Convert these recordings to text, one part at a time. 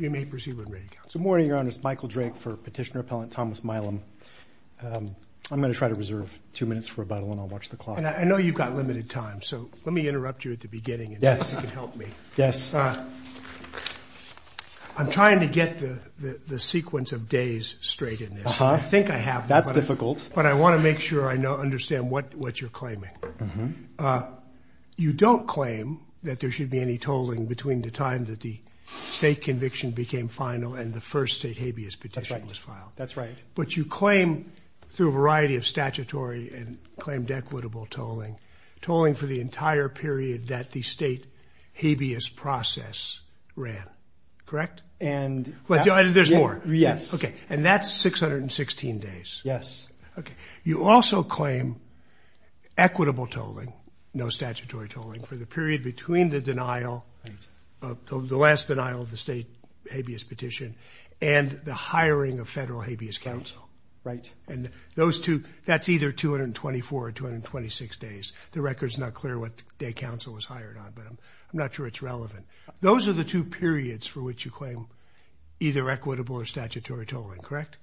Good morning, Your Honors. Michael Drake for Petitioner Appellant Thomas Milam. I'm going to try to reserve two minutes for rebuttal and I'll watch the clock. I know you've got limited time, so let me interrupt you at the beginning and see if you can help me. I'm trying to get the sequence of days straight in this. I think I have, but I want to make sure I understand what you're claiming. You don't claim that there should be any tolling between the time that the state conviction became final and the first state habeas petition was filed. But you claim, through a variety of statutory and claimed equitable tolling, tolling for the entire period that the state habeas process ran, correct? And there's more. Yes. Okay. And that's 616 days. Yes. Okay. You also claim equitable tolling, no statutory tolling, for the period between the last denial of the state habeas petition and the hiring of federal habeas counsel. Right. And that's either 224 or 226 days. The record's not clear what day counsel was hired on, but I'm not sure it's relevant. Those are the two periods for which you claim either equitable or statutory tolling, correct?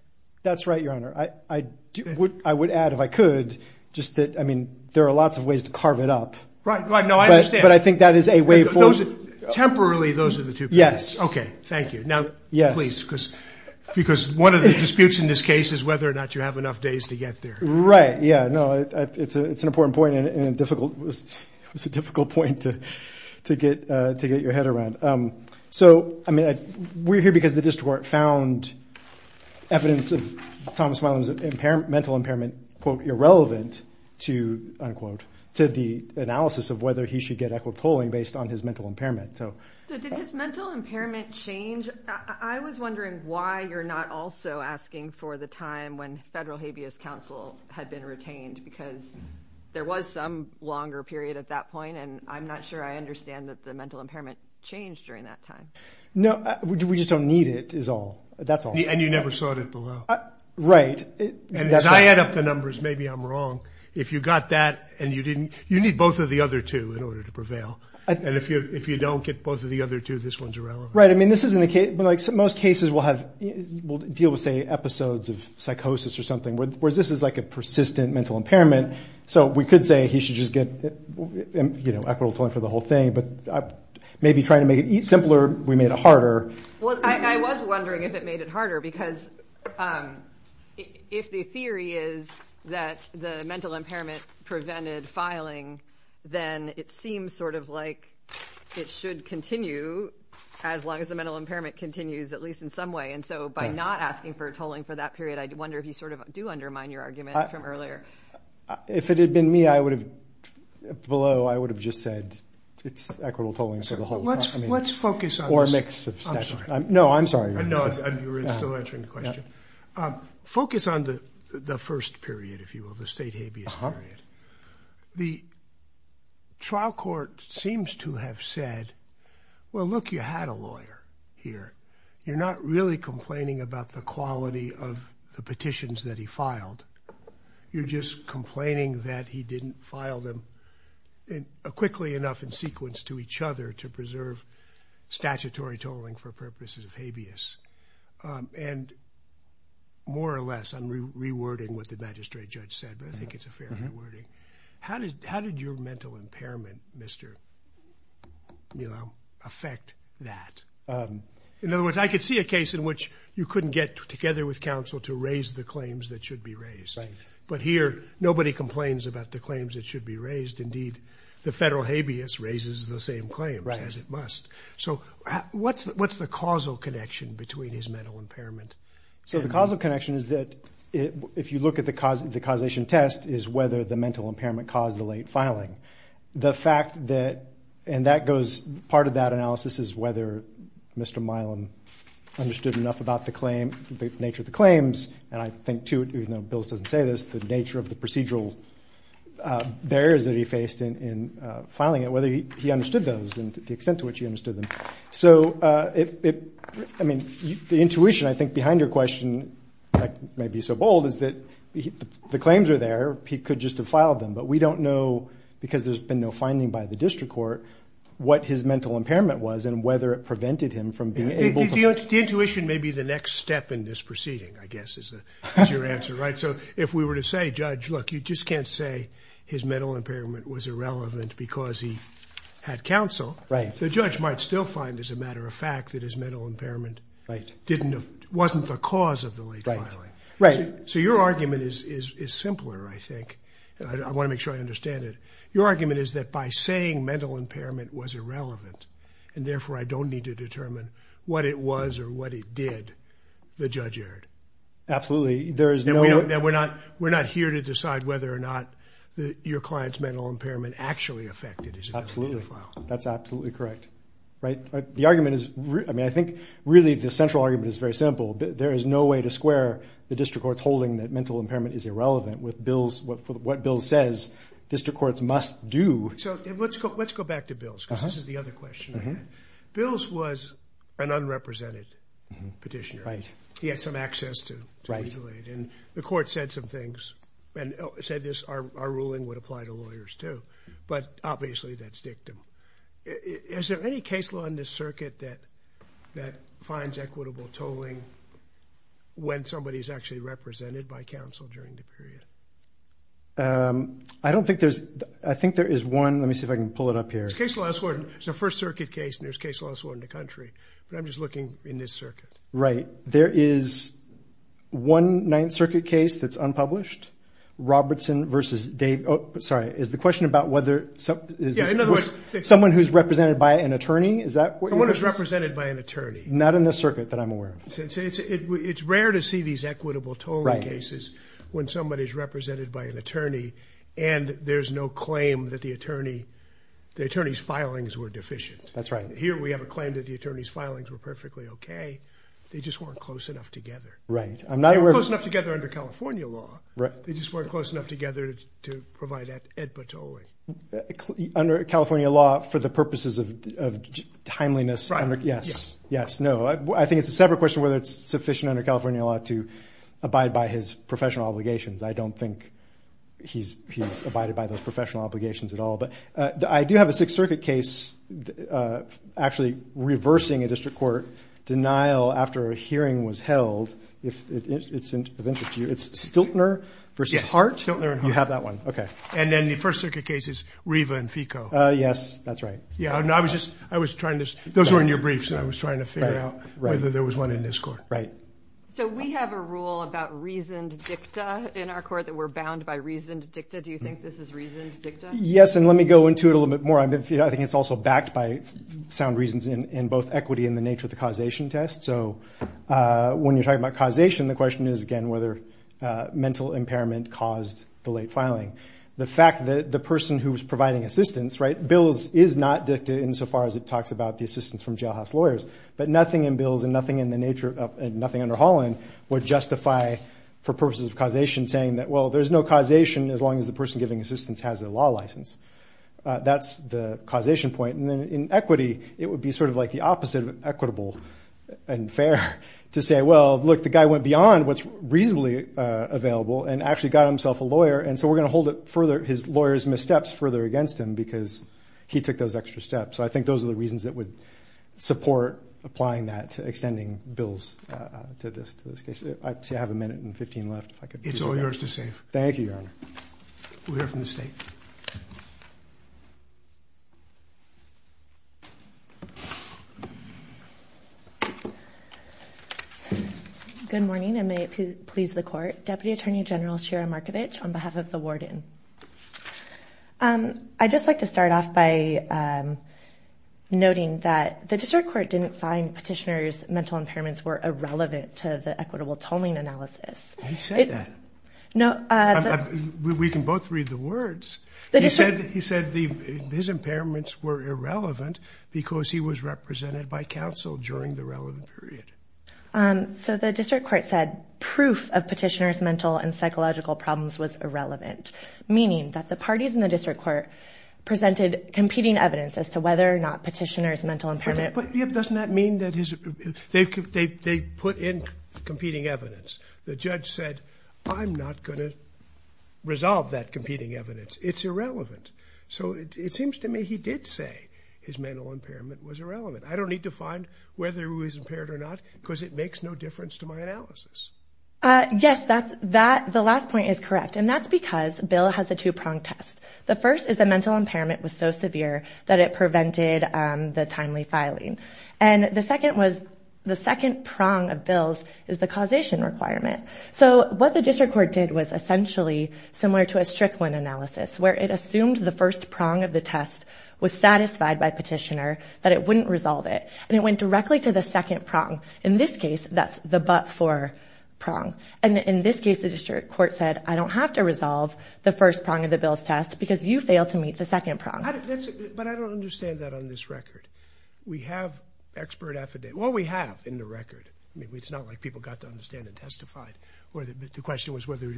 That's right, Your Honor. I would add, if I could, just that, I mean, there are lots of ways to carve it up, but I think that is a way for... Temporarily, those are the two periods. Yes. Okay. Thank you. Because one of the disputes in this case is whether or not you have enough days to get there. Right. Yeah. No, it's an important point and a difficult... It's a difficult point to get your head around. So, I mean, we're here because the district court found evidence of Thomas Milam's mental impairment, quote, irrelevant to, unquote, to the analysis of whether he should get equitable tolling based on his mental impairment. So... Does mental impairment change? I was wondering why you're not also asking for the time when federal habeas counsel had been retained, because there was some longer period at that point, and I'm not sure I understand that the mental impairment changed during that time. No, we just don't need it, is all. That's all. And you never sought it below. Right. And as I add up the numbers, maybe I'm wrong. If you got that and you didn't... You need both of the other two in order to prevail. And if you don't get both of the other two, this one's irrelevant. Right. I mean, this isn't a case... But most cases we'll deal with, say, episodes of psychosis or something, whereas this is like a persistent mental impairment. So we could say he should just get equitable tolling for the whole thing. But maybe trying to make it simpler, we made it harder. Well, I was wondering if it made it harder, because if the theory is that the mental impairment prevented filing, then it seems sort of like it should continue as long as the mental impairment continues, at least in some way. And so by not asking for a tolling for that period, I wonder if you sort of do undermine your argument from earlier. If it had been me, I would have... Below, I would have just said it's equitable tolling for the whole time. Let's focus on this. Or a mix of... I'm sorry. No, I'm sorry. You're still answering the question. Focus on the first period, if you will, the state habeas period. The trial court seems to have said, well, look, you had a lawyer here. You're not really complaining about the quality of the petitions that he filed. You're just complaining that he didn't file them quickly enough in sequence to each other to preserve statutory tolling for purposes of habeas. And more or less, I'm rewording what the magistrate judge said, but I think it's a fair rewording. How did your mental impairment affect that? In other words, I could see a case in which you couldn't get together with counsel to raise the claims that should be raised. But here, nobody complains about the claims that should be raised. Indeed, the federal habeas raises the same claims as it must. So what's the causal connection between his mental impairment? So the causal connection is that if you look at the causation test is whether the mental impairment caused the late filing. The fact that... And that goes... Part of that analysis is whether Mr. Milam understood enough about the nature of the claims. And I in filing it, whether he understood those and the extent to which he understood them. So I mean, the intuition, I think behind your question, maybe so bold is that the claims are there. He could just have filed them, but we don't know because there's been no finding by the district court, what his mental impairment was and whether it prevented him from being able to... The intuition may be the next step in this proceeding, I guess, is your answer, right? So if we were to say, judge, look, you just can't say his mental impairment was irrelevant because he had counsel. The judge might still find as a matter of fact that his mental impairment wasn't the cause of the late filing. So your argument is simpler, I think. I want to make sure I understand it. Your argument is that by saying mental impairment was irrelevant and therefore I don't need to determine what it was or what it did, the judge erred. Absolutely. There is no... And we're not here to decide whether or not your client's mental impairment actually affected his ability to file. That's absolutely correct, right? The argument is... I mean, I think really the central argument is very simple. There is no way to square the district court's holding that mental impairment is irrelevant with what Bill says district courts must do. So let's go back to Bill's because this is the other question. Bill's was an unrepresented petitioner. He had some access to regulate and the court said some things and said this, our ruling would apply to lawyers too, but obviously that's dictum. Is there any case law in this circuit that finds equitable tolling when somebody is actually represented by counsel during the period? I don't think there's... I think there is one. Let me see if I can pull it up here. It's a first circuit case and there's case law in the country, but I'm just looking in this circuit. Right. There is one ninth circuit case that's unpublished. Robertson versus Dave... Oh, sorry. Is the question about whether... Someone who's represented by an attorney? Someone who's represented by an attorney. Not in this circuit that I'm aware of. It's rare to see these equitable tolling cases when somebody is represented by an attorney and there's no claim that the attorney's filings were deficient. That's right. Here, we have a claim that the attorney's filings were perfectly okay. They just weren't close enough together. Right. I'm not aware... They weren't close enough together under California law. Right. They just weren't close enough together to provide that equitable tolling. Under California law for the purposes of timeliness... Right. Yes. Yes. No. I think it's a separate question whether it's sufficient under California law to abide by his professional obligations. I don't think he's abided by those professional obligations at all, but I do have a sixth circuit case actually reversing a district court denial after a hearing was held. If it's of interest to you, it's Stiltner versus Hart? Yes. Stiltner and Hart. You have that one. Okay. And then the first circuit case is Riva and Fico. Yes. That's right. Yeah. I was trying to... Those were in your briefs. I was trying to figure out whether there was one in this court. Right. So we have a rule about reasoned dicta in our court that we're bound by reasoned dicta. Do you think this is reasoned dicta? Yes. And let me go into it a little bit more. I think it's also backed by sound reasons in both equity and the nature of the causation test. So when you're talking about causation, the question is again whether mental impairment caused the late filing. The fact that the person who's providing assistance, right, bills is not dicta insofar as it talks about the assistance from jailhouse lawyers, but nothing in bills and nothing in the nature of... Nothing under Holland would justify for purposes of causation saying that, there's no causation as long as the person giving assistance has a law license. That's the causation point. And then in equity, it would be sort of like the opposite of equitable and fair to say, well, look, the guy went beyond what's reasonably available and actually got himself a lawyer. And so we're going to hold his lawyer's missteps further against him because he took those extra steps. So I think those are the reasons that would support applying that to extending bills to this case. I have a minute and 15 left. It's all yours to save. Thank you, Your Honor. We'll hear from the state. Good morning and may it please the court. Deputy Attorney General Shira Markovich on behalf of the warden. I'd just like to start off by noting that the district court didn't find petitioner's mental impairments were irrelevant to the equitable tolling analysis. He said that. We can both read the words. He said his impairments were irrelevant because he was represented by counsel during the relevant period. So the district court said proof of petitioner's mental and psychological problems was irrelevant, meaning that the parties in the district court presented competing evidence as to whether or not petitioner's mental impairment. But doesn't that mean that they put in I'm not going to resolve that competing evidence. It's irrelevant. So it seems to me he did say his mental impairment was irrelevant. I don't need to find whether he was impaired or not because it makes no difference to my analysis. Yes, that's that. The last point is correct. And that's because Bill has a two prong test. The first is the mental impairment was so severe that it prevented the timely filing. And the second was the second prong of Bill's is the causation requirement. So what the district court did was essentially similar to a Strickland analysis, where it assumed the first prong of the test was satisfied by petitioner, that it wouldn't resolve it. And it went directly to the second prong. In this case, that's the but for prong. And in this case, the district court said, I don't have to resolve the first prong of the Bill's test because you fail to meet the second prong. But I don't understand that on this record. We have expert affidavit. Well, we have in the record. I mean, it's not like people got to understand and testified or the question was whether or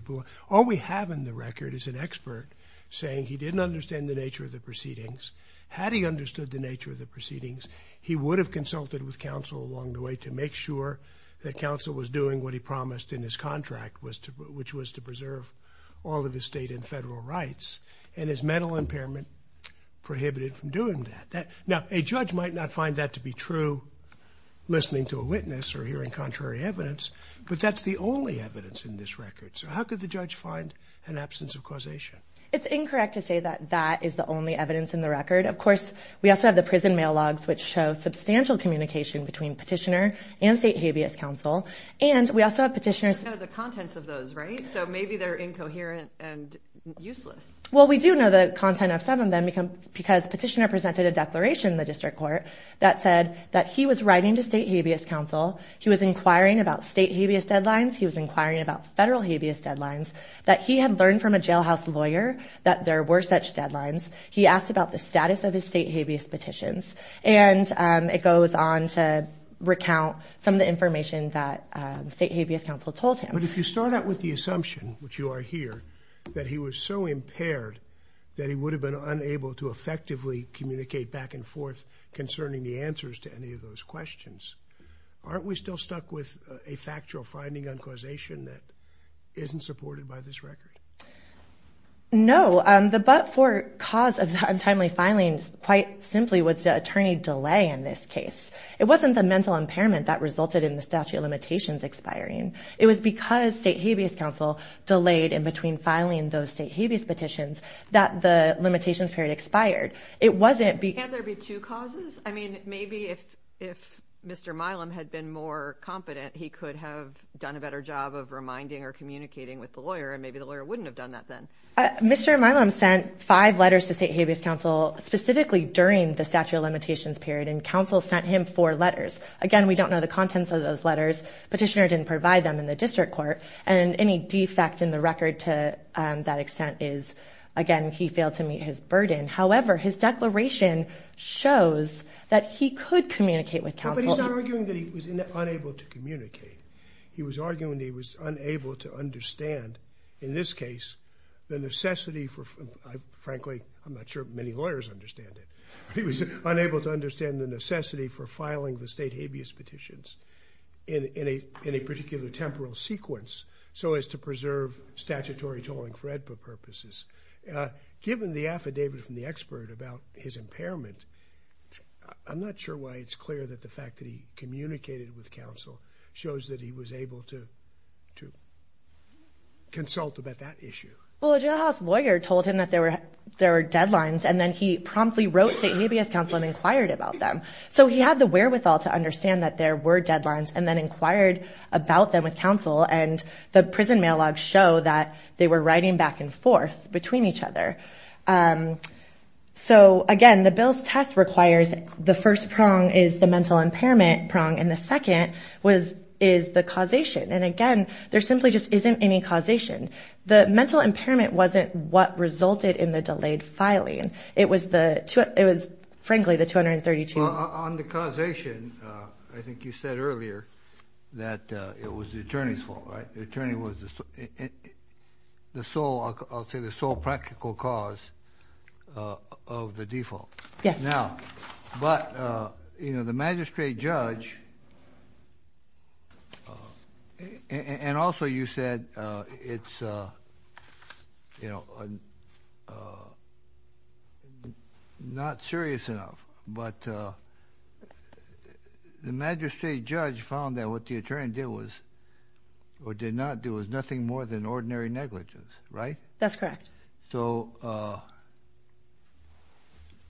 not we have in the record is an expert saying he didn't understand the nature of the proceedings. Had he understood the nature of the proceedings, he would have consulted with counsel along the way to make sure that counsel was doing what he promised in his contract, which was to preserve all of his state and federal rights. And his mental impairment prohibited from doing that. Now, a judge might not find that to be true, listening to a witness or hearing contrary evidence, but that's the only evidence in this record. So how could the judge find an absence of causation? It's incorrect to say that that is the only evidence in the record. Of course, we also have the prison mail logs, which show substantial communication between petitioners. We know the contents of those, right? So maybe they're incoherent and useless. Well, we do know the content of some of them because petitioner presented a declaration in the district court that said that he was writing to state habeas counsel. He was inquiring about state habeas deadlines. He was inquiring about federal habeas deadlines that he had learned from a jail house lawyer that there were such deadlines. He asked about the status of his state habeas and it goes on to recount some of the information that state habeas counsel told him. But if you start out with the assumption, which you are here, that he was so impaired that he would have been unable to effectively communicate back and forth concerning the answers to any of those questions, aren't we still stuck with a factual finding on causation that isn't supported by this record? No, the but for cause of the untimely filings, quite simply, was the attorney delay in this case. It wasn't the mental impairment that resulted in the statute of limitations expiring. It was because state habeas counsel delayed in between filing those state habeas petitions that the limitations period expired. It wasn't... Can't there be two causes? I mean, maybe if Mr. Milam had been more competent, he could have done a better job of reminding or communicating with the lawyer and maybe the lawyer wouldn't have done that then. Mr. Milam sent five letters to state habeas counsel specifically during the statute of limitations period and counsel sent him four letters. Again, we don't know the contents of those letters. Petitioner didn't provide them in the district court and any defect in the record to that extent is, again, he failed to meet his burden. However, his declaration shows that he could communicate with counsel. But he's not arguing that he was unable to understand, in this case, the necessity for... Frankly, I'm not sure many lawyers understand it. He was unable to understand the necessity for filing the state habeas petitions in a particular temporal sequence so as to preserve statutory tolling for AEDPA purposes. Given the affidavit from the expert about his impairment, I'm not sure why it's clear that the to consult about that issue. Well, a jailhouse lawyer told him that there were deadlines and then he promptly wrote state habeas counsel and inquired about them. So he had the wherewithal to understand that there were deadlines and then inquired about them with counsel and the prison mail logs show that they were writing back and forth between each other. So again, the bill's test requires the first prong is the mental impairment prong and the second is the causation. And again, there simply just isn't any causation. The mental impairment wasn't what resulted in the delayed filing. It was, frankly, the 232... Well, on the causation, I think you said earlier that it was the attorney's fault, right? The attorney was the sole, I'll say, the sole practical cause of the default. Yes. But the magistrate judge, and also you said it's not serious enough, but the magistrate judge found that what the attorney did was, or did not do, was nothing more than ordinary negligence, right? That's correct. So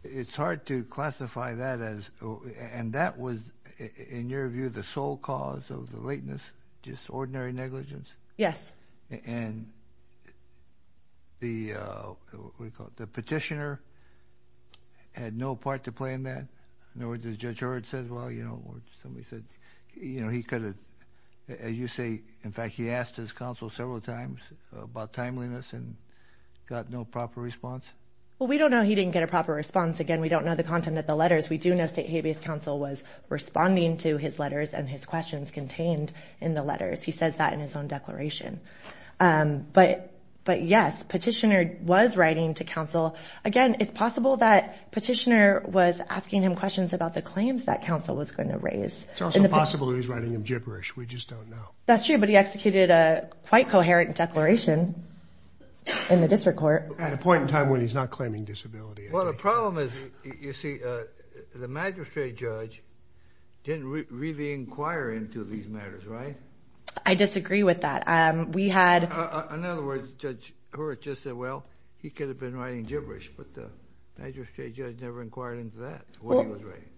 it's hard to classify that as, and that was, in your view, the sole cause of the lateness, just ordinary negligence? Yes. And the, what do you call it, the petitioner had no part to play in that. In other words, as Judge Hurd says, well, you know, somebody said, you know, he could have, as you say, in fact, he asked his counsel several times about timeliness and got no proper response. Well, we don't know he didn't get a proper response. Again, we don't know the content of the letters. We do know State Habeas Counsel was responding to his letters and his questions contained in the letters. He says that in his own declaration. But yes, petitioner was writing to counsel. Again, it's possible that petitioner was asking him questions about the claims that counsel was going to raise. It's also possible that he's writing him gibberish. We just don't know. That's true, but he executed a quite coherent declaration in the district court. At a point in time when he's not claiming disability. Well, the problem is, you see, the magistrate judge didn't really inquire into these matters, right? I disagree with that. We had... In other words, Judge Hurd just said, well, he could have been writing gibberish, but the magistrate judge never inquired into that, what he was writing.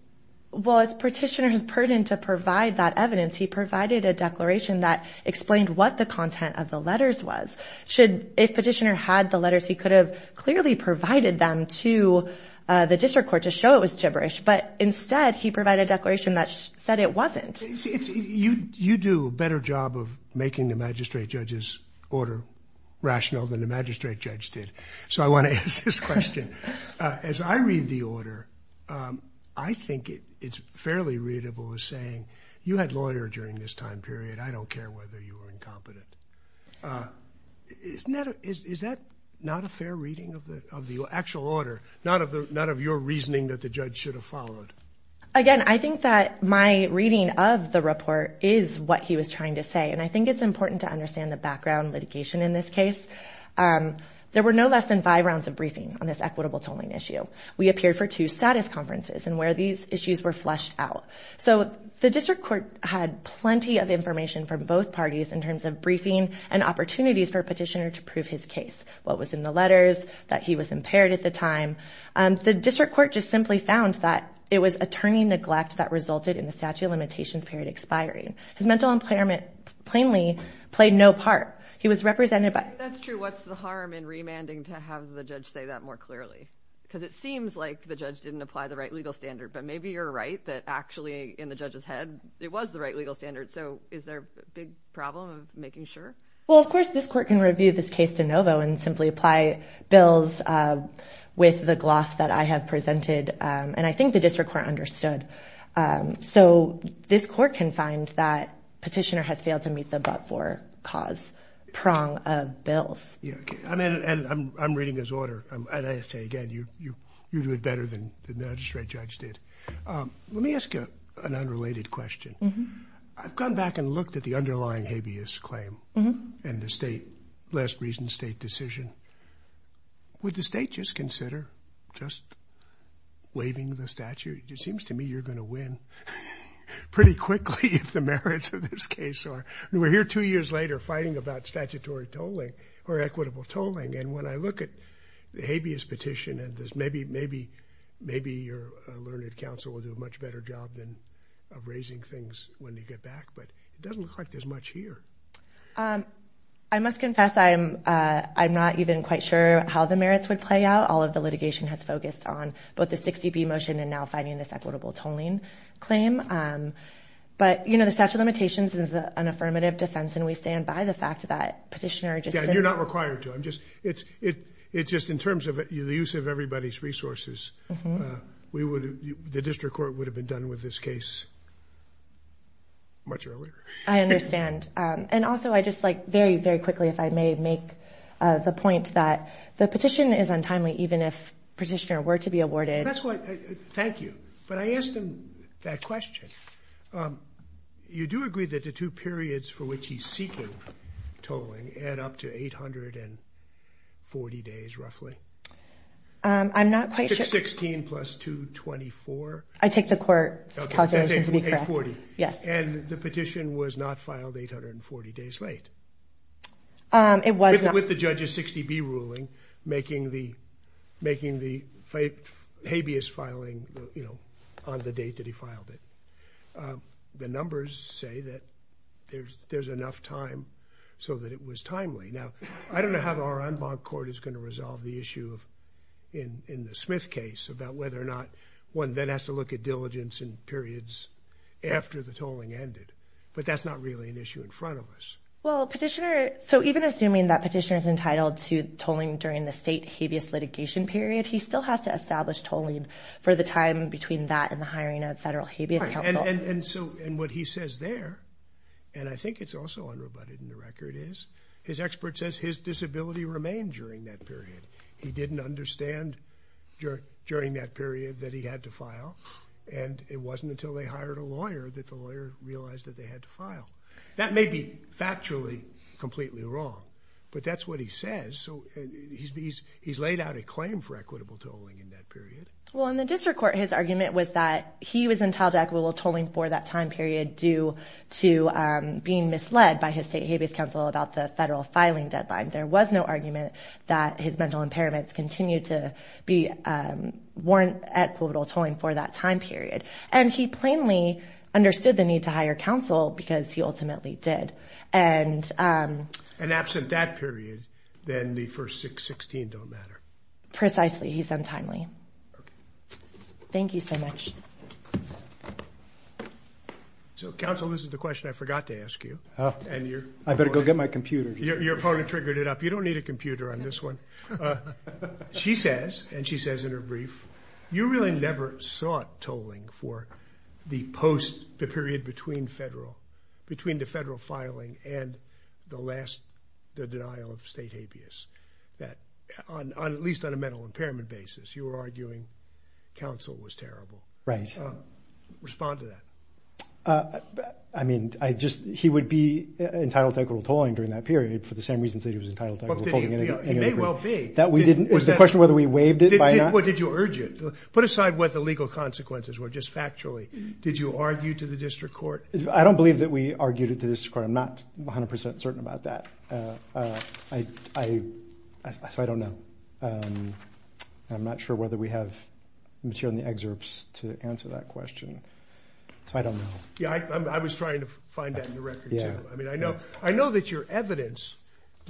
Well, it's petitioner's burden to provide that evidence. He provided a declaration that explained what the content of the letters was. If petitioner had the letters, he could have clearly provided them to the district court to show it was gibberish, but instead he provided a declaration that said it wasn't. You do a better job of making the magistrate judge's order rational than the magistrate judge did. So I want to ask this question. As I read the order, I think it's fairly readable as saying you had lawyer during this time period. I don't care whether you were incompetent. Is that not a fair reading of the actual order? Not of your reasoning that the judge should have followed? Again, I think that my reading of the report is what he was trying to say, and I think it's important to understand the background litigation in this case. There were no less than five rounds of briefing on this equitable tolling issue. We appeared for two status conferences and where these issues were flushed out. So the district court had plenty of information from both parties in terms of briefing and opportunities for a petitioner to prove his case, what was in the letters, that he was impaired at the time. The district court just simply found that it was attorney neglect that resulted in the statute of limitations period expiring. His mental impairment plainly played no part. He was represented by... Have the judge say that more clearly? Because it seems like the judge didn't apply the right legal standard, but maybe you're right that actually in the judge's head, it was the right legal standard. So is there a big problem of making sure? Well, of course, this court can review this case de novo and simply apply bills with the gloss that I have presented, and I think the district court understood. So this court can find that cause prong of bills. I'm reading this order, and I say again, you do it better than the magistrate judge did. Let me ask you an unrelated question. I've gone back and looked at the underlying habeas claim and the last recent state decision. Would the state just consider just waiving the statute? It seems to me you're going to win pretty quickly if the merits of this case are... We're here two years later fighting about statutory tolling or equitable tolling, and when I look at the habeas petition and maybe your learned counsel will do a much better job of raising things when they get back, but it doesn't look like there's much here. I must confess I'm not even quite sure how the merits would play out. All of the litigation has focused on both the 60B motion and now finding this equitable tolling claim, but the statute of limitations is an affirmative defense, and we stand by the fact that petitioner just... You're not required to. It's just in terms of the use of everybody's resources, the district court would have been done with this case much earlier. I understand. And also I just like very, very quickly, if I may make the point that the petition is untimely even if petitioner were to be awarded... Thank you, but I asked him that question. You do agree that the two periods for which he's seeking tolling add up to 840 days roughly? I'm not quite sure. 16 plus 224? I take the court's calculation to be correct. That's 840. And the petition was not filed 840 days late. It was not. With the judge's 60B ruling, making the habeas filing on the date that he filed it. The numbers say that there's enough time so that it was timely. Now, I don't know how our en banc court is going to resolve the issue in the Smith case about whether or not one then has to look at diligence and periods after the tolling ended, but that's not really an issue in front of us. Well, petitioner... So even assuming that petitioner is entitled to tolling during the state habeas litigation period, he still has to establish tolling for the time between that and the hiring of federal habeas counsel. And what he says there, and I think it's also unrebutted in the record, is his expert says his disability remained during that period. He didn't understand during that period that he had to file. And it wasn't until they hired a lawyer that the lawyer realized that they had to file. That may be factually completely wrong, but that's what he says. So he's laid out a claim for equitable tolling in that period. Well, in the district court, his argument was that he was entitled to equitable tolling for that time period due to being misled by his state habeas counsel about the federal filing deadline. There was no argument that his mental impairments continued to be warrant equitable tolling for that time period. And he plainly understood the need to hire counsel because he ultimately did. And absent that period, then the first 616 don't matter. Precisely. He's untimely. Thank you so much. So counsel, this is the question I forgot to ask you. I better go get my computer. Your opponent triggered it up. You don't need a computer on this one. She says, and she says in her brief, you really never sought tolling for the post, the period between federal, between the federal filing and the last, the denial of state habeas that on at least on a mental impairment basis, you were arguing counsel was terrible. Right. Respond to that. I mean, I just, he would be entitled to equitable tolling during that that we didn't, it was the question whether we waived it. Why not? What did you urge it? Put aside what the legal consequences were just factually. Did you argue to the district court? I don't believe that we argued it to this court. I'm not a hundred percent certain about that. I, I, I, so I don't know. I'm not sure whether we have material in the excerpts to answer that question. So I don't know. Yeah. I was trying to find that in the record too. I mean, I know, I know that your evidence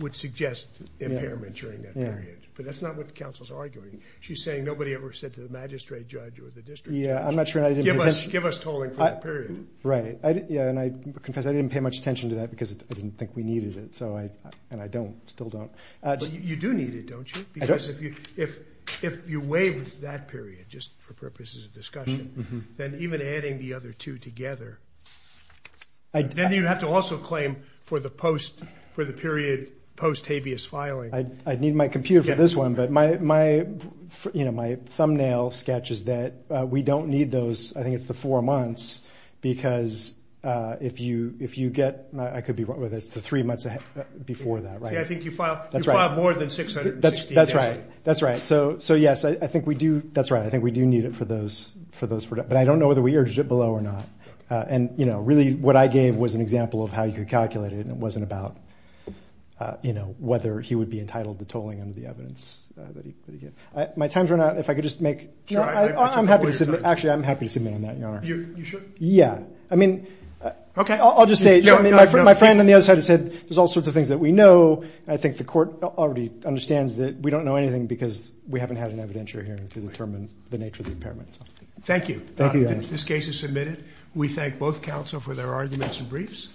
would suggest impairment during that period, but that's not what the council's arguing. She's saying nobody ever said to the magistrate judge or the district judge, give us, give us tolling for that period. Right. Yeah. And I confess I didn't pay much attention to that because I didn't think we needed it. So I, and I don't still don't. But you do need it, don't you? Because if you, if, if you waived that period, just for purposes of discussion, then even adding the other two together, then you'd have to also claim for the post, for the period post habeas filing. I, I need my computer for this one, but my, my, you know, my thumbnail sketches that we don't need those. I think it's the four months because if you, if you get, I could be wrong with this, the three months before that, right? I think you filed more than 660. That's right. That's right. So, so yes, I think we do. That's right. I think we do need it for those, for those, but I don't know whether we urged it below or not. And, you know, really what I gave was an example of how you could calculate it. And it wasn't about, you know, whether he would be entitled to tolling under the evidence that he, that he gave. My time's run out. If I could just make, I'm happy to, actually, I'm happy to submit on that, Your Honor. You should. Yeah. I mean, okay. I'll just say my friend on the other side has said, there's all sorts of things that we know. And I think the court already understands that we don't know anything because we haven't had an evidentiary to determine the nature of the impairments. Thank you. Thank you. This case is submitted. We thank both counsel for their arguments and briefs.